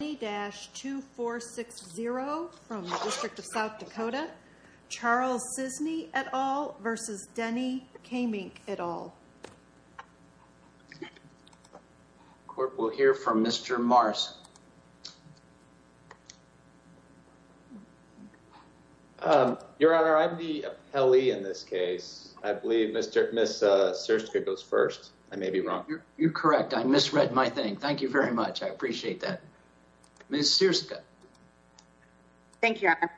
2460 from the District of South Dakota, Charles Sisney et al. v. Denny Kaemingk et al. Court will hear from Mr. Mars. Your Honor, I'm the appellee in this case. I believe Ms. Sirska goes first. I may be wrong. You're correct. I misread my thing. Thank you very much. I appreciate that. Ms. Sirska. Thank you, Your Honor.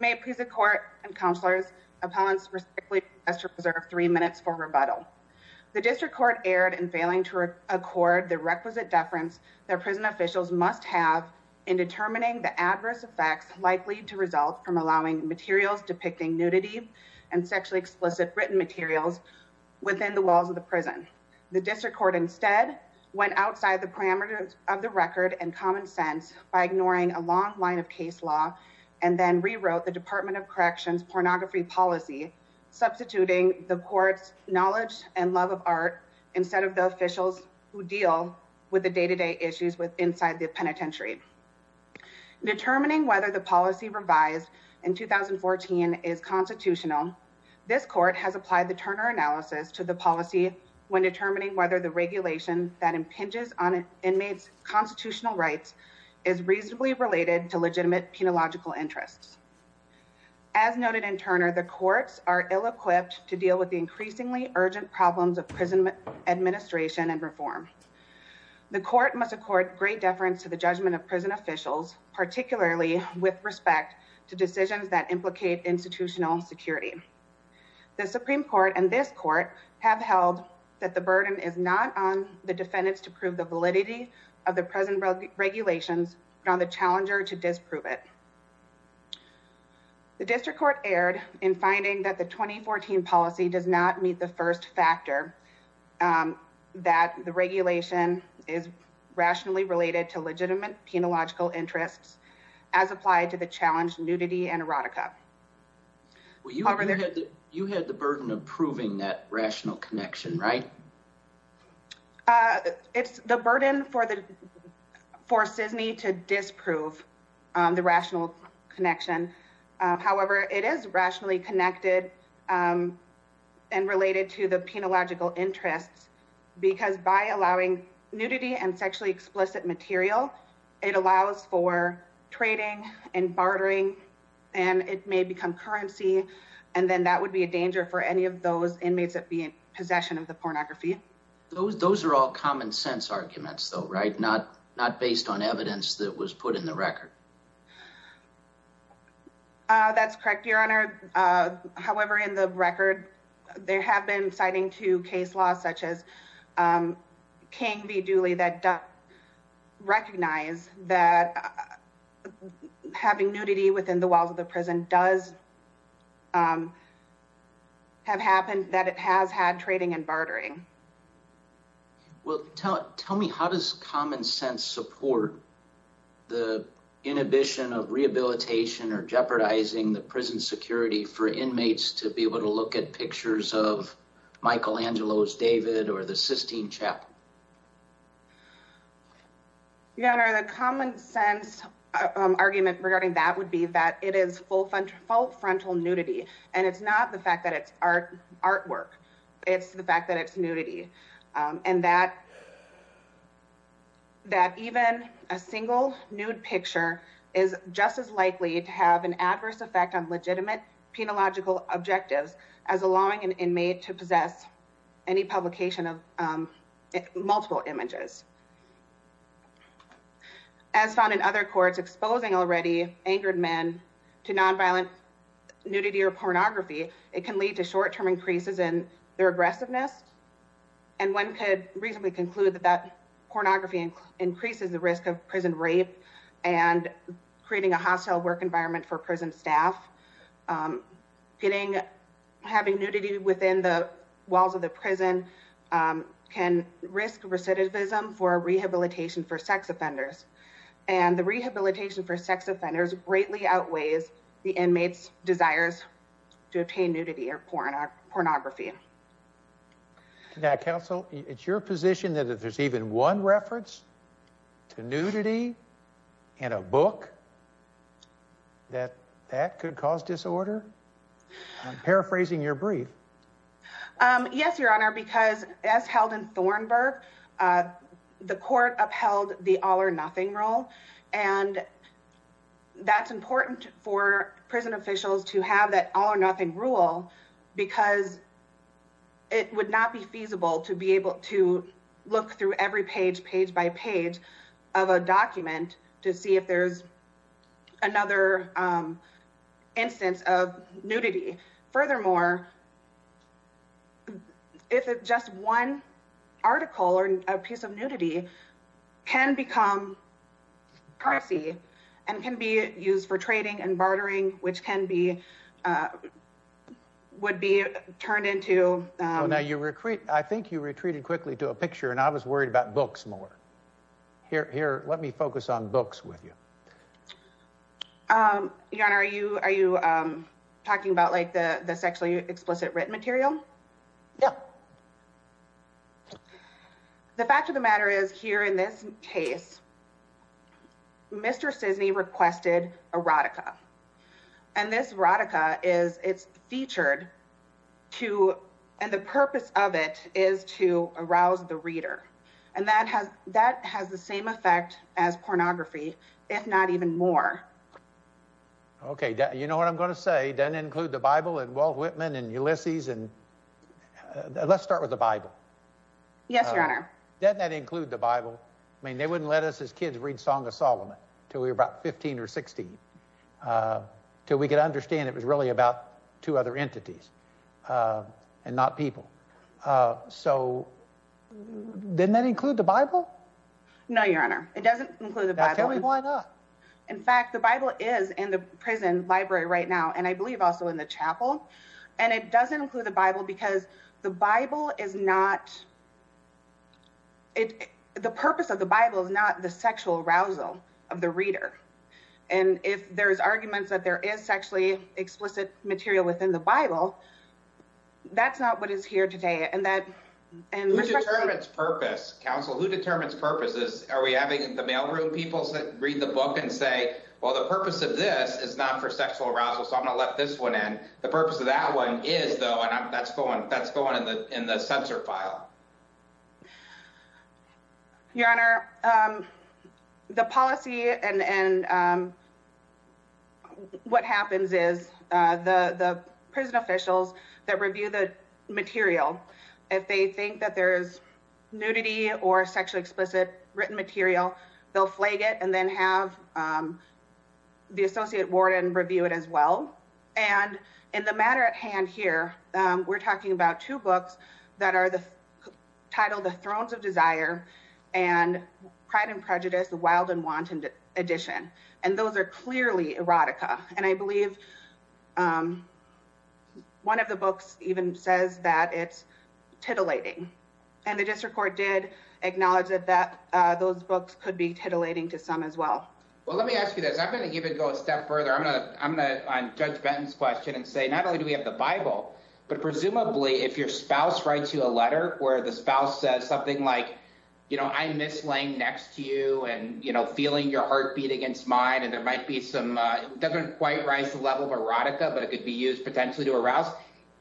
May it please the Court and Counselors, Appellants respectfully request to reserve three minutes for rebuttal. The District Court erred in failing to accord the requisite deference that prison officials must have in determining the adverse effects likely to result from allowing materials depicting nudity and sexually explicit written materials within the walls of the prison. The District Court instead went outside the parameters of the record and common sense by ignoring a long line of case law and then rewrote the Department of Corrections pornography policy substituting the Court's knowledge and love of art instead of the officials who deal with the day-to-day issues inside the penitentiary. Determining whether the policy revised in 2014 is constitutional, this Court has applied the Turner analysis to the policy when determining whether the regulation that impinges on inmates' constitutional rights is reasonably related to legitimate penological interests. As noted in Turner, the Courts are ill-equipped to deal with the increasingly urgent problems of prison administration and reform. The Court must accord great deference to the judgment of prison officials, particularly with respect to decisions that implicate institutional security. The Supreme Court and this Court have held that the burden is not on the defendants to prove the validity of the present regulations but on the challenger to disprove it. The District Court erred in finding that the 2014 policy does not meet the first factor that the regulation is rationally related to legitimate penological interests as applied to the challenged nudity and erotica. You had the burden of proving that rational connection, right? It's the burden for SISNY to disprove the rational connection. However, it is rationally connected and related to the penological interests because by allowing nudity and sexually explicit material, it allows for trading and bartering and it may become currency and then that would be a danger for any of those inmates that be in possession of the pornography. Those are all common sense arguments, though, right? Not based on evidence that was put in the record. That's correct, Your Honor. However, in the record, there have been citing to case laws such as King v. Dooley that recognize that having nudity within the walls of the prison does have happened, Well, tell me, how does common sense support the inhibition of rehabilitation or jeopardizing the prison security for inmates to be able to look at pictures of Michelangelo's David or the Sistine Chapel? Your Honor, the common sense argument regarding that would be that it is full frontal nudity and it's not the fact that it's artwork. It's the fact that it's nudity and that even a single nude picture is just as likely to have an adverse effect on legitimate penological objectives as allowing an inmate to possess any publication of multiple images. As found in other courts exposing already angered men to nonviolent nudity or pornography, it can lead to short-term increases in their aggressiveness. And one could reasonably conclude that that pornography increases the risk of prison rape and creating a hostile work environment for prison staff. Having nudity within the walls of the prison can risk recidivism for rehabilitation for sex offenders and the rehabilitation for sex offenders greatly outweighs the inmates' desires to obtain nudity or pornography. Counsel, it's your position that if there's even one reference to nudity in a book, that that could cause disorder? I'm paraphrasing your brief. Yes, Your Honor, because as held in Thornburg, the court upheld the all-or-nothing rule and that's important for prison officials to have that all-or-nothing rule because it would not be feasible to be able to look through every page, page by page, of a document to see if there's another instance of nudity. Furthermore, if just one article or a piece of nudity can become piracy and can be used for trading and bartering, which can be, would be turned into... Now, I think you retreated quickly to a picture and I was worried about books more. Here, let me focus on books with you. Your Honor, are you talking about like the sexually explicit written material? No. The fact of the matter is, here in this case, Mr. Sisney requested erotica. And this erotica is, it's featured to, and the purpose of it is to arouse the reader. And that has the same effect as pornography, if not even more. Okay, you know what I'm going to say, doesn't include the Bible and Walt Whitman and Ulysses and... Let's start with the Bible. Yes, Your Honor. Doesn't that include the Bible? I mean, they wouldn't let us as kids read Song of Solomon until we were about 15 or 16 until we could understand it was really about two other entities and not people. So, didn't that include the Bible? No, Your Honor, it doesn't include the Bible. Now, tell me why not? In fact, the Bible is in the prison library right now, and I believe also in the chapel. And it doesn't include the Bible because the Bible is not... The purpose of the Bible is not the sexual arousal of the reader. And if there's arguments that there is sexually explicit material within the Bible, that's not what is here today. Who determines purpose, counsel? Who determines purpose? Are we having the mailroom people read the book and say, well, the purpose of this is not for sexual arousal, so I'm going to let this one in. The purpose of that one is, though, and that's going in the censor file. Your Honor, the policy and what happens is the prison officials that review the material, if they think that there is nudity or sexually explicit written material, they'll flag it and then have the associate warden review it as well. And in the matter at hand here, we're talking about two books that are titled The Thrones of Desire and Pride and Prejudice, The Wild and Wanted Edition. And those are clearly erotica. And I believe one of the books even says that it's titillating. And the district court did acknowledge that those books could be titillating to some as well. Well, let me ask you this. I'm going to even go a step further. I'm going to judge Benton's question and say, not only do we have the Bible, but presumably if your spouse writes you a letter where the spouse says something like, you know, I miss laying next to you and, you know, feeling your heartbeat against mine and there might be some, it doesn't quite rise to the level of erotica, but it could be used potentially to arouse.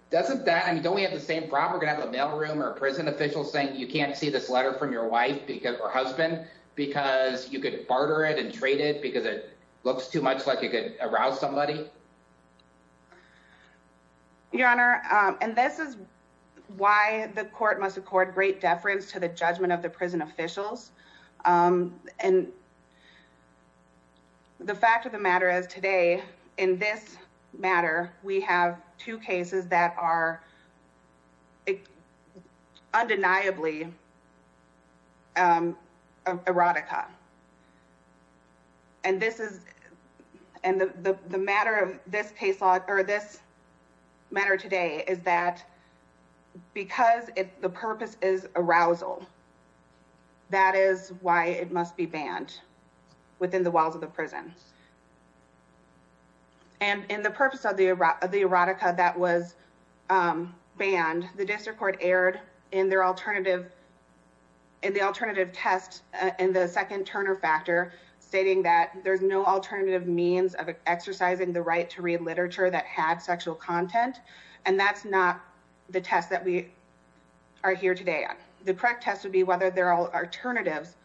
Doesn't that, I mean, don't we have the same problem? We're going to have a mailroom or a prison official saying you can't see this letter from your wife or husband because you could barter it and trade it because it looks too much like it could arouse somebody? Your Honor, and this is why the court must accord great deference to the judgment of the prison officials. And the fact of the matter is today in this matter, we have two cases that are undeniably erotica. And this is, and the matter of this case law or this matter today is that because the purpose is arousal, that is why it must be banned within the walls of the prison. And in the purpose of the erotica that was banned, the district court erred in their alternative, in the alternative test, in the second Turner factor stating that there's no alternative means of exercising the right to read literature that had sexual content. And that's not the test that we are here today on. The correct test would be whether there are alternatives,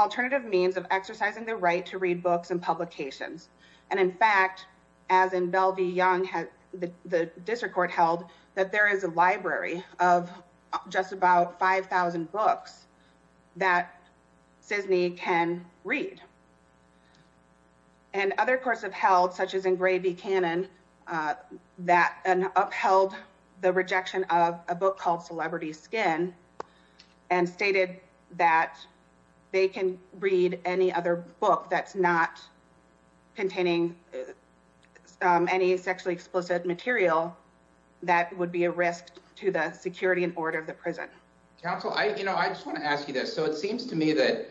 alternative means of exercising the right to read books and publications. And in fact, as in Belle v. Young, the district court held that there is a library of just about 5,000 books that SISNY can read. And other courts have held, such as in Gray v. Cannon, that upheld the rejection of a book called Celebrity Skin and stated that they can read any other book that's not containing any sexually explicit material that would be a risk to the security and order of the prison. Counsel, I just want to ask you this. So it seems to me that,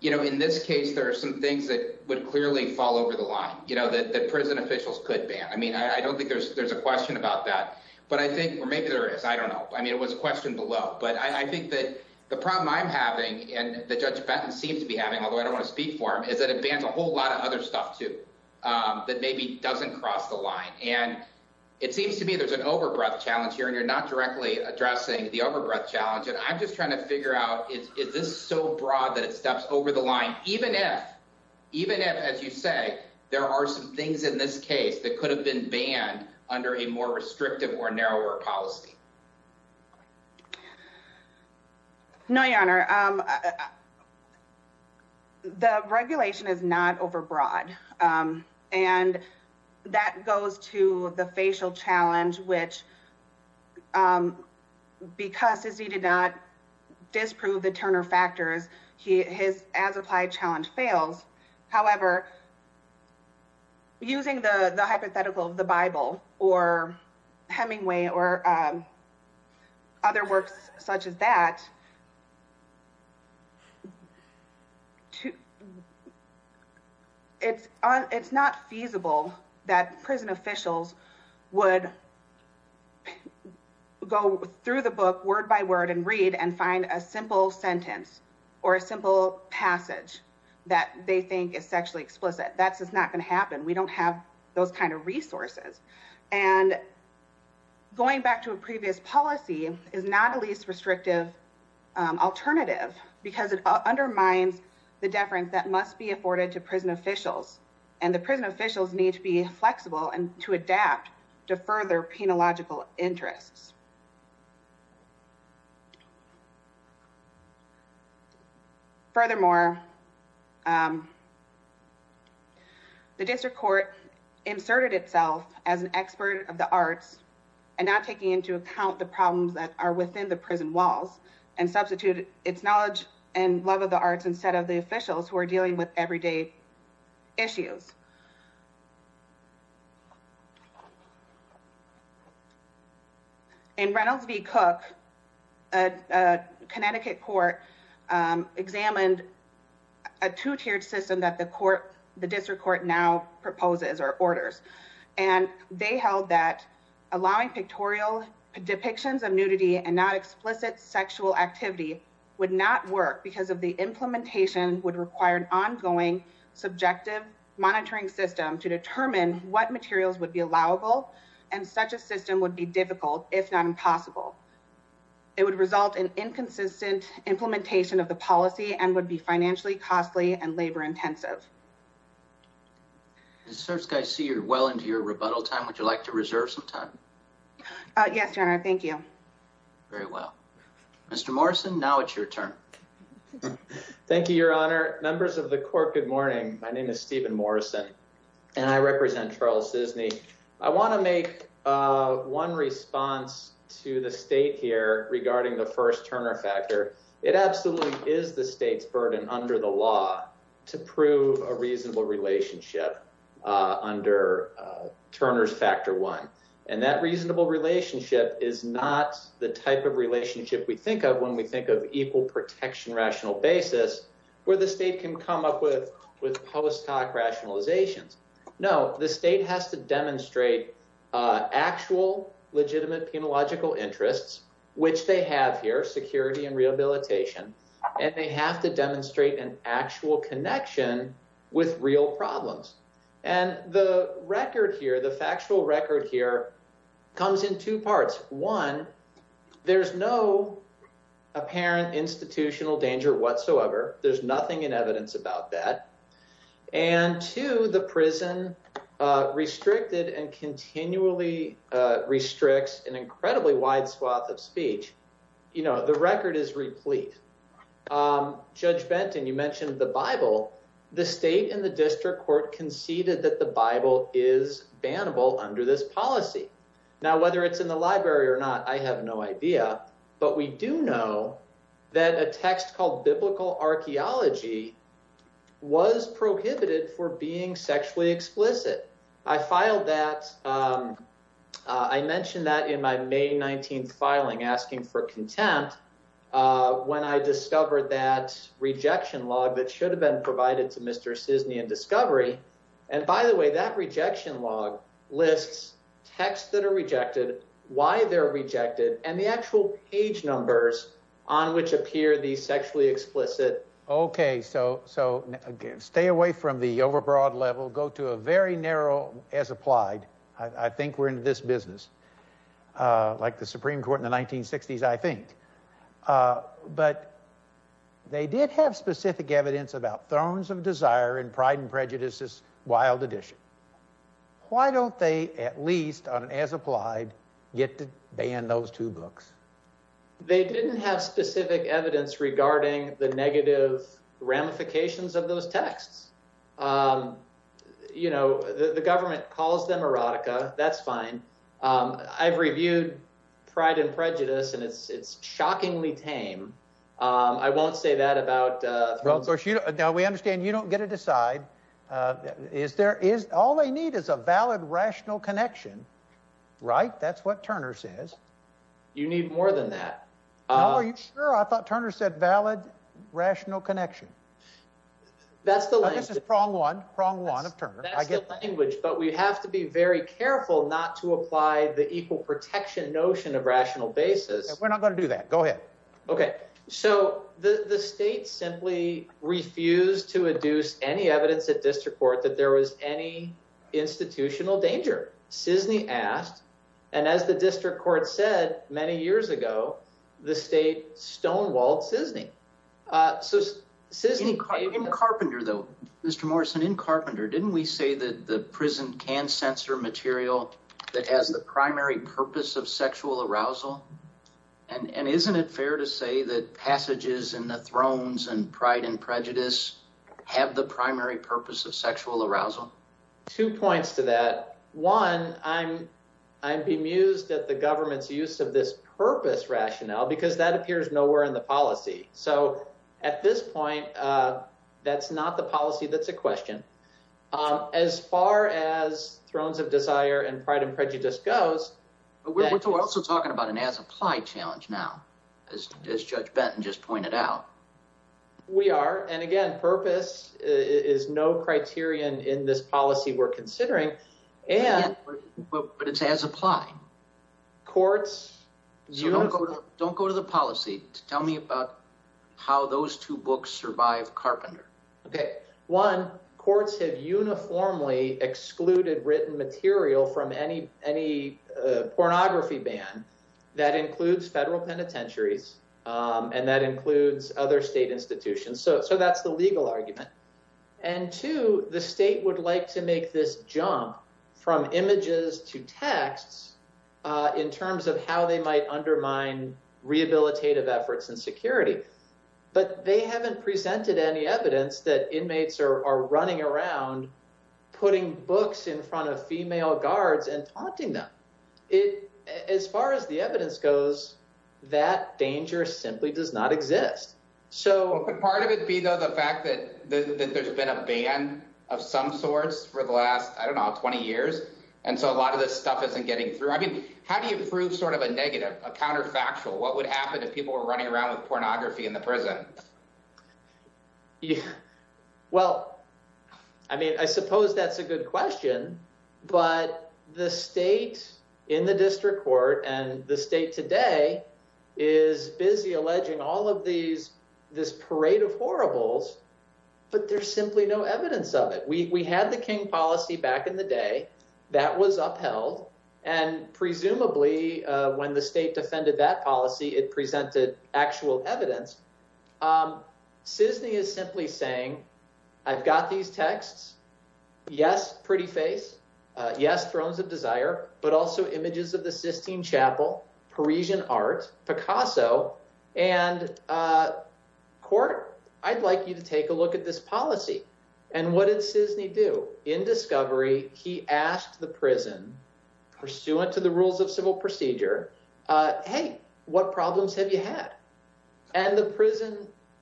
you know, in this case, there are some things that would clearly fall over the line, you know, that prison officials could ban. I mean, I don't think there's a question about that, but I think, or maybe there is, I don't know. I mean, it was a question below, but I think that the problem I'm having and that Judge Benton seems to be having, although I don't want to speak for him, is that it bans a whole lot of other stuff too. That maybe doesn't cross the line. And it seems to me there's an over-breath challenge here, and you're not directly addressing the over-breath challenge. And I'm just trying to figure out, is this so broad that it steps over the line, even if, as you say, there are some things in this case that could have been banned under a more restrictive or narrower policy? No, Your Honor. The regulation is not over-broad. And that goes to the facial challenge, which, because Azizi did not disprove the Turner factors, his as-applied challenge fails. However, using the hypothetical of the Bible or Hemingway or other works such as that, it's not feasible that prison officials would go through the book word-by-word and read and find a simple sentence or a simple passage that they think is sexually explicit. That's just not going to happen. We don't have those kind of resources. And going back to a previous policy is not a least restrictive alternative because it undermines the deference that must be afforded to prison officials. And the prison officials need to be flexible and to adapt to further penological interests. Furthermore, the district court inserted itself as an expert of the arts and not taking into account the problems that are within the prison walls and substituted its knowledge and love of the arts instead of the officials who are dealing with everyday issues. In Reynolds v. Cook, a Connecticut court examined a two-tiered system that the district court now proposes or orders. And they held that allowing pictorial depictions of nudity and not explicit sexual activity would not work because of the implementation would require an ongoing subjective monitoring system to determine what materials would be allowable and such a system would be difficult, if not impossible. It would result in inconsistent implementation of the policy and would be financially costly and labor-intensive. Mr. Skysee, you're well into your rebuttal time. Would you like to reserve some time? Yes, Your Honor. Thank you. Very well. Mr. Morrison, now it's your turn. Thank you, Your Honor. Members of the court, good morning. My name is Stephen Morrison and I represent Charles Disney. Let me make one response to the state here regarding the first Turner factor. It absolutely is the state's burden under the law to prove a reasonable relationship under Turner's factor one. And that reasonable relationship is not the type of relationship we think of when we think of equal protection rational basis where the state can come up with post hoc rationalizations. No, the state has to demonstrate actual legitimate penological interests, which they have here, security and rehabilitation. And they have to demonstrate an actual connection with real problems. And the record here, the factual record here comes in two parts. One, there's no apparent institutional danger whatsoever. There's nothing in evidence about that. And two, the prison restricted and continually restricts an incredibly wide swath of speech. You know, the record is replete. Judge Benton, you mentioned the Bible. The state and the district court conceded that the Bible is bannable under this policy. Now, whether it's in the library or not, I have no idea. But we do know that a text called biblical archaeology was prohibited for being sexually explicit. I filed that. I mentioned that in my May 19th filing asking for contempt when I discovered that rejection log that should have been provided to Mr. Cisney and Discovery. And by the way, that rejection log lists texts that are rejected, why they're rejected, and the actual page numbers on which appear the sexually explicit. Okay, so stay away from the overbroad level. Go to a very narrow as applied. I think we're in this business. Like the Supreme Court in the 1960s, I think. But they did have specific evidence about thrones of desire and pride and prejudices, wild edition. Why don't they, at least on as applied, get to ban those two books? They didn't have specific evidence regarding the negative ramifications of those texts. You know, the government calls them erotica. That's fine. I've reviewed pride and prejudice, and it's shockingly tame. I won't say that about... Now, we understand you don't get to decide. All they need is a valid rational connection, right? That's what Turner says. You need more than that. Oh, are you sure? I thought Turner said valid rational connection. That's the language. This is prong one, prong one of Turner. That's the language, but we have to be very careful not to apply the equal protection notion of rational basis. We're not going to do that. Go ahead. Okay, so the state simply refused to adduce any evidence at district court that there was any institutional danger. Cisney asked, and as the district court said many years ago, the state stonewalled Cisney. So Cisney... In Carpenter, though, Mr. Morrison, in Carpenter, didn't we say that the prison can censor material that has the primary purpose of sexual arousal? And isn't it fair to say that passages in the Thrones and Pride and Prejudice have the primary purpose of sexual arousal? Two points to that. One, I'm bemused at the government's use of this purpose rationale, because that appears nowhere in the policy. So at this point, that's not the policy that's a question. As far as Thrones of Desire and Pride and Prejudice goes... We're also talking about an as-applied challenge now, as Judge Benton just pointed out. We are, and again, purpose is no criterion in this policy we're considering, and... But it's as-applied. Courts... Don't go to the policy. Tell me about how those two books survive Carpenter. One, courts have uniformly excluded written material from any pornography ban. That includes federal penitentiaries, and that includes other state institutions. So that's the legal argument. And two, the state would like to make this jump from images to texts, in terms of how they might undermine rehabilitative efforts and security. But they haven't presented any evidence that inmates are running around putting books in front of female guards and taunting them. As far as the evidence goes, that danger simply does not exist. So... Could part of it be, though, the fact that there's been a ban of some sorts for the last, I don't know, 20 years? And so a lot of this stuff isn't getting through. I mean, how do you prove sort of a negative, a counterfactual? What would happen if people were running around with pornography in the prison? Yeah. Well, I mean, I suppose that's a good question. But the state in the district court and the state today is busy alleging all of these, this parade of horribles, but there's simply no evidence of it. We had the King policy back in the day. That was upheld. And presumably, when the state defended that policy, it presented actual evidence. Sisney is simply saying, I've got these texts. Yes, pretty face. Yes, thrones of desire. But also images of the Sistine Chapel, Parisian art, Picasso. And court, I'd like you to take a look at this policy. And what did Sisney do? In discovery, he asked the prison, pursuant to the rules of civil procedure, hey, what problems have you had? And the prison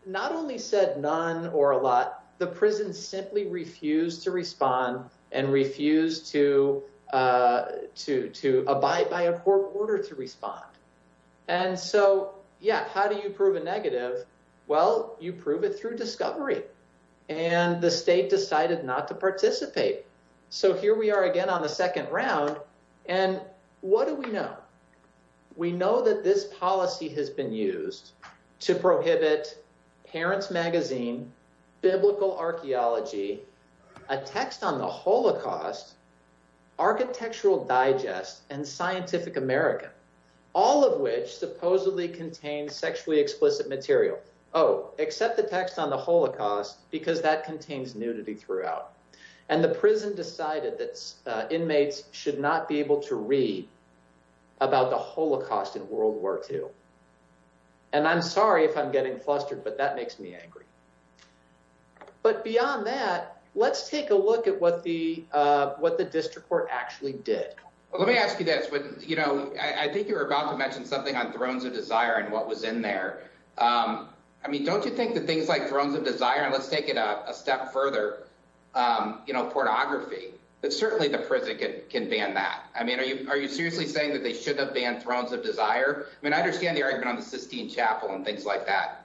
not only said none or a lot, the prison simply refused to respond and refused to abide by a court order to respond. And so, yeah, how do you prove a negative? Well, you prove it through discovery. And the state decided not to participate. So here we are again on the second round. And what do we know? We know that this policy has been used to prohibit Parents Magazine, Biblical Archaeology, a text on the Holocaust, Architectural Digest, and Scientific American, all of which supposedly contain sexually explicit material. Oh, except the text on the Holocaust, because that contains nudity throughout. And the prison decided that inmates should not be able to read about the Holocaust in World War II. And I'm sorry if I'm getting flustered, but that makes me angry. But beyond that, let's take a look at what the district court actually did. Well, let me ask you this. I think you were about to mention something on Thrones of Desire and what was in there. I mean, don't you think that things like Thrones of Desire, and let's take it a step further, you know, pornography, that certainly the prison can ban that. I mean, are you seriously saying that they should have banned Thrones of Desire? And that's just a hypothetical and things like that.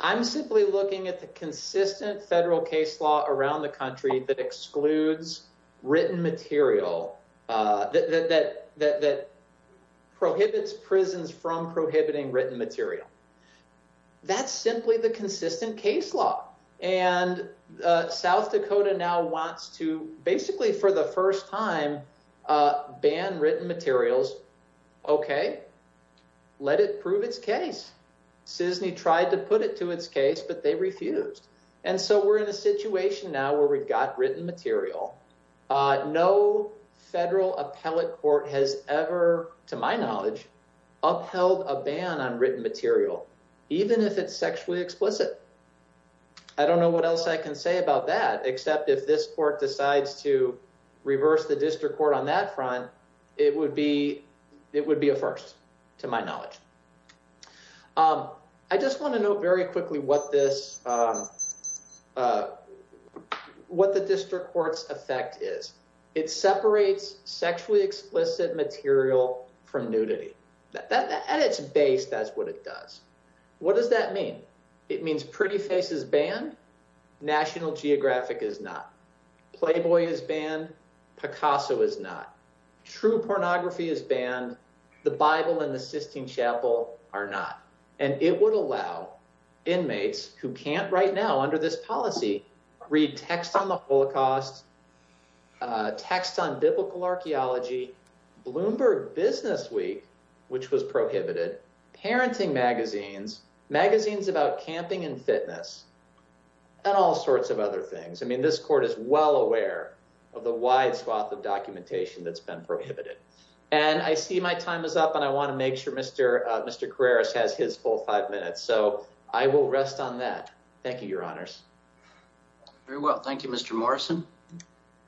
I'm simply looking at the consistent federal case law around the country that excludes written material, that prohibits prisons from prohibiting written material. That's simply the consistent case law. And South Dakota now wants to, basically for the first time, ban written materials. Okay, let it prove its case. CISNY tried to put it to its case, but they refused. And so we're in a situation now where we've got written material. No federal appellate court has ever, to my knowledge, upheld a ban on written material, even if it's sexually explicit. I don't know what else I can say about that, except if this court decides to reverse the district court on that front, it would be a first, to my knowledge. I just want to note very quickly what the district court's effect is. It separates sexually explicit material from nudity. At its base, that's what it does. What does that mean? It means Pretty Face is banned. National Geographic is not. Playboy is banned. Picasso is not. True Pornography is banned. The Bible and the Sistine Chapel are not. And it would allow inmates who can't right now under this policy read text on the Holocaust, text on biblical archaeology, Bloomberg Businessweek, which was prohibited, parenting magazines, magazines about camping and fitness, and all sorts of other things. I mean, this court is well aware of the wide swath of documentation that's been prohibited. And I see my time is up, and I want to make sure Mr. Carreras has his full five minutes, so I will rest on that. Thank you, Your Honors. Very well. Thank you, Mr. Morrison.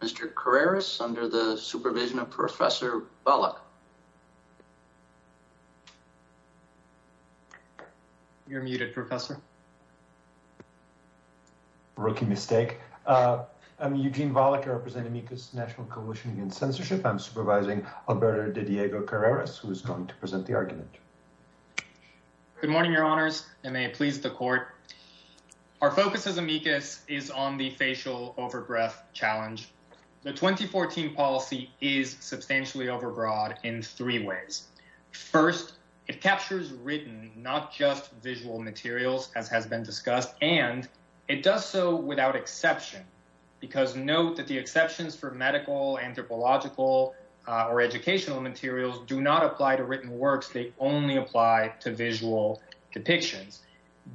Mr. Carreras, under the supervision of Professor Volokh. You're muted, Professor. Rookie mistake. I'm Eugene Volokh. I represent Amicus National Coalition Against Censorship. I'm supervising Alberto de Diego Carreras, who is going to present the argument. Good morning, Your Honors, and may it please the court. Our focus as Amicus is on the facial over-breath challenge. The 2014 policy is substantially over-broad in three ways. First, it captures written, not just visual materials, as has been discussed, and it does so without exception, because note that the exceptions for medical, anthropological, or educational materials do not apply to written works. They only apply to visual depictions.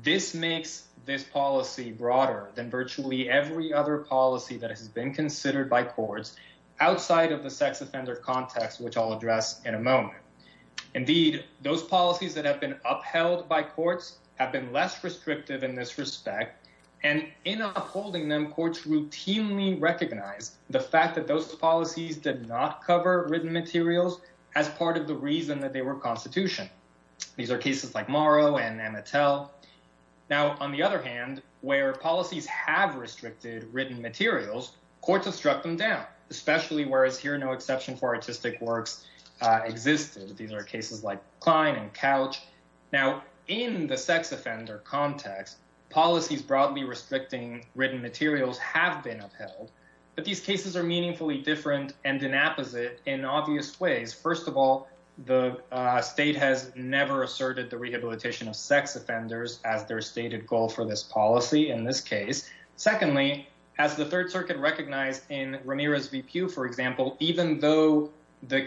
This makes this policy broader than virtually every other policy that has been considered by courts outside of the sex offender context, which I'll address in a moment. Indeed, those policies that have been upheld by courts have been less restrictive in this respect, and in upholding them, courts routinely recognize the fact that those policies did not cover written materials as part of the reason that they were constitution. These are cases like Morrow and Amatel. Now, on the other hand, where policies have restricted written materials, courts have struck them down, especially whereas here no exception for artistic works existed. These are cases like Klein and Couch. Now, in the sex offender context, policies broadly restricting written materials have been upheld, but these cases are meaningfully different and in opposite in obvious ways. First of all, the state has never asserted the rehabilitation of sex offenders as their stated goal for this policy in this case. Secondly, as the Third Circuit recognized in Ramirez v. Pew, for example, even though the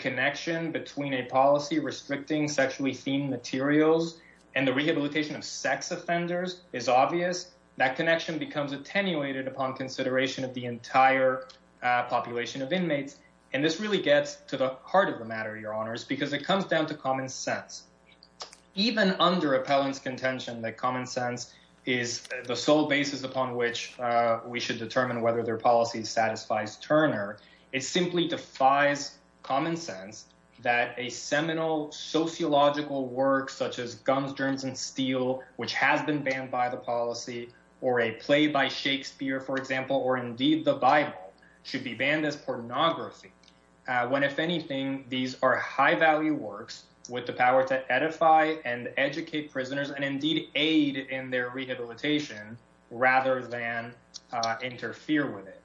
policy restricting sexually themed materials and the rehabilitation of sex offenders is obvious, that connection becomes attenuated upon consideration of the entire population of inmates, and this really gets to the heart of the matter, Your Honors, because it comes down to common sense. Even under appellant's contention that common sense is the sole basis upon which we should determine whether their policy satisfies Turner, it simply defies common sense that original sociological works such as Gums, Germs, and Steel, which has been banned by the policy, or a play by Shakespeare, for example, or indeed the Bible, should be banned as pornography, when if anything, these are high value works with the power to edify and educate prisoners and indeed aid in their rehabilitation rather than interfere with it.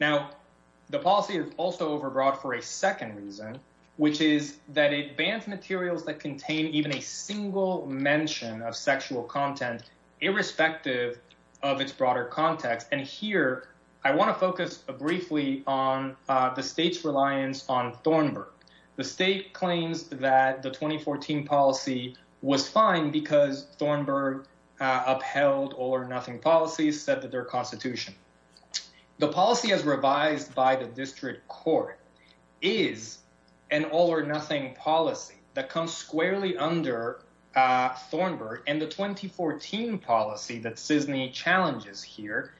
Now, the policy is also overbroad for a second reason, which is that it bans materials that contain even a single mention of sexual content irrespective of its broader context, and here I want to focus briefly on the state's reliance on Thornburg. The state claims that the 2014 policy was fine because Thornburg upheld all or nothing policies, said that their constitution. The policy as revised by the district court is an all or nothing policy that comes squarely under Thornburg, and the 2014 policy that CISNY challenges here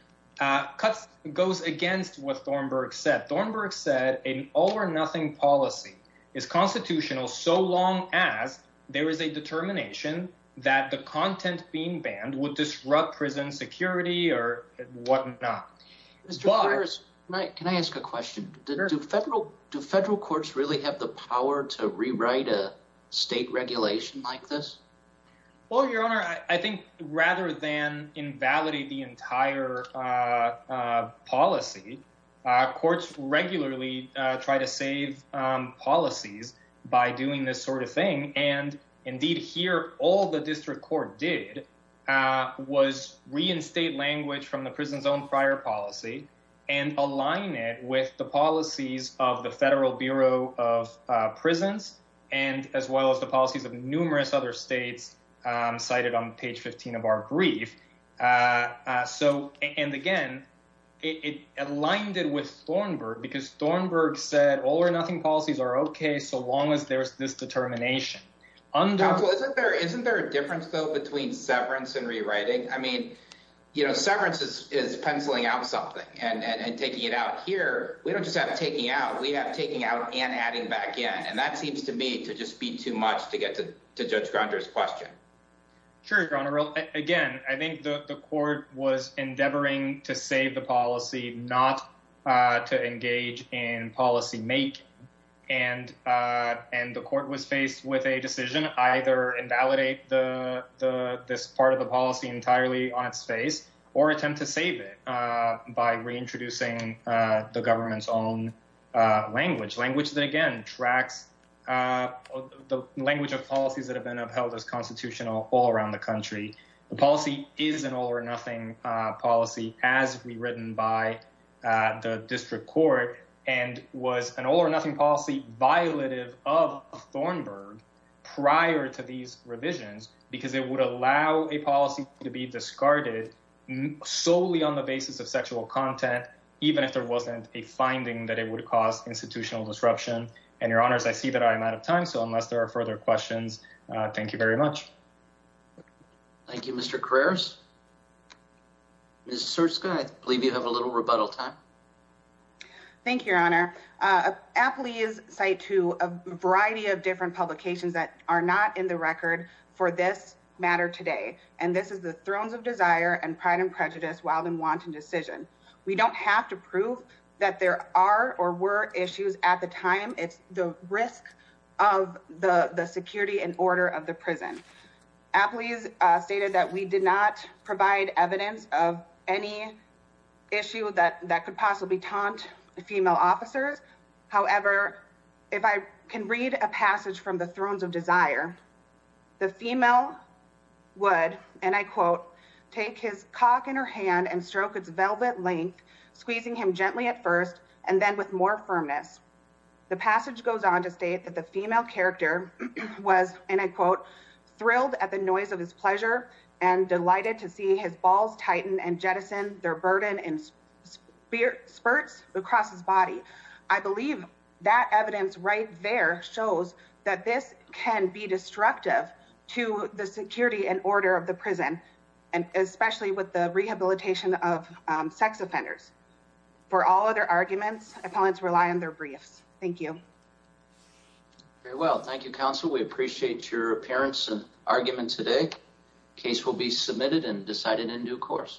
goes against what Thornburg said. Thornburg said an all or nothing policy is constitutional so long as there is a determination that the content being banned would disrupt prison security or whatnot. Mr. Farris, can I ask a question? Do federal courts really have the power to rewrite a state regulation like this? Well, Your Honor, I think rather than invalidate the entire policy, courts regularly try to save policies by doing this sort of thing, and indeed here all the district court did was reinstate language from the prison's own prior policy and align it with the policies of the Federal Bureau of Prisons and as well as the policies of numerous other states cited on page 15 of our brief. So, and again, it aligned it with Thornburg because Thornburg said all or nothing policies are okay so long as there's this determination. Counsel, isn't there a difference, though, between severance and rewriting? I mean, you know, severance is penciling out something and taking it out. Here, we don't just have taking out. We have taking out and adding back in, and that seems to me to just be too much to get to Judge Gronder's question. Sure, Your Honor. Again, I think the court was endeavoring to save the policy, not to engage in policymaking, and the court was faced with a decision either invalidate this part of the policy entirely on its face or attempt to save it by reintroducing the government's own language, language that, again, tracks the language of policies that have been upheld as constitutional all around the country. The policy is an all or nothing policy as rewritten by the district court and was an all or nothing policy violative of Thornburg prior to these revisions because it would allow a policy to be discarded solely on the basis of sexual content even if there wasn't a finding that it would cause institutional disruption. And, Your Honors, I see that I am out of time, so unless there are further questions, thank you very much. Thank you, Mr. Carreras. Ms. Surska, I believe you have a little rebuttal time. Thank you, Your Honor. Appley is a site to a variety of different publications that are not in the record for this matter today, and this is the Thrones of Desire and Pride and Prejudice Wild and Wanton Decision. We don't have to prove that there are or were issues at the time. It's the risk of the security and order of the prison. Appley has stated that we did not provide evidence of any issue that could possibly taunt female officers. However, if I can read a passage from the Thrones of Desire, the female would, and I quote, take his cock in her hand and stroke its velvet length, squeezing him gently at first and then with more firmness. The passage goes on to state that the female character was, and I quote, thrilled at the noise of his pleasure and delighted to see his balls tighten and jettison their burden and spurts across his body. I believe that evidence that this can be destructive to the security and order of the prison and especially with the rehabilitation of sex offenders. For all other arguments, opponents rely on their briefs. Thank you. Very well. Thank you, counsel. We appreciate your appearance and argument today. Case will be submitted and decided in due course.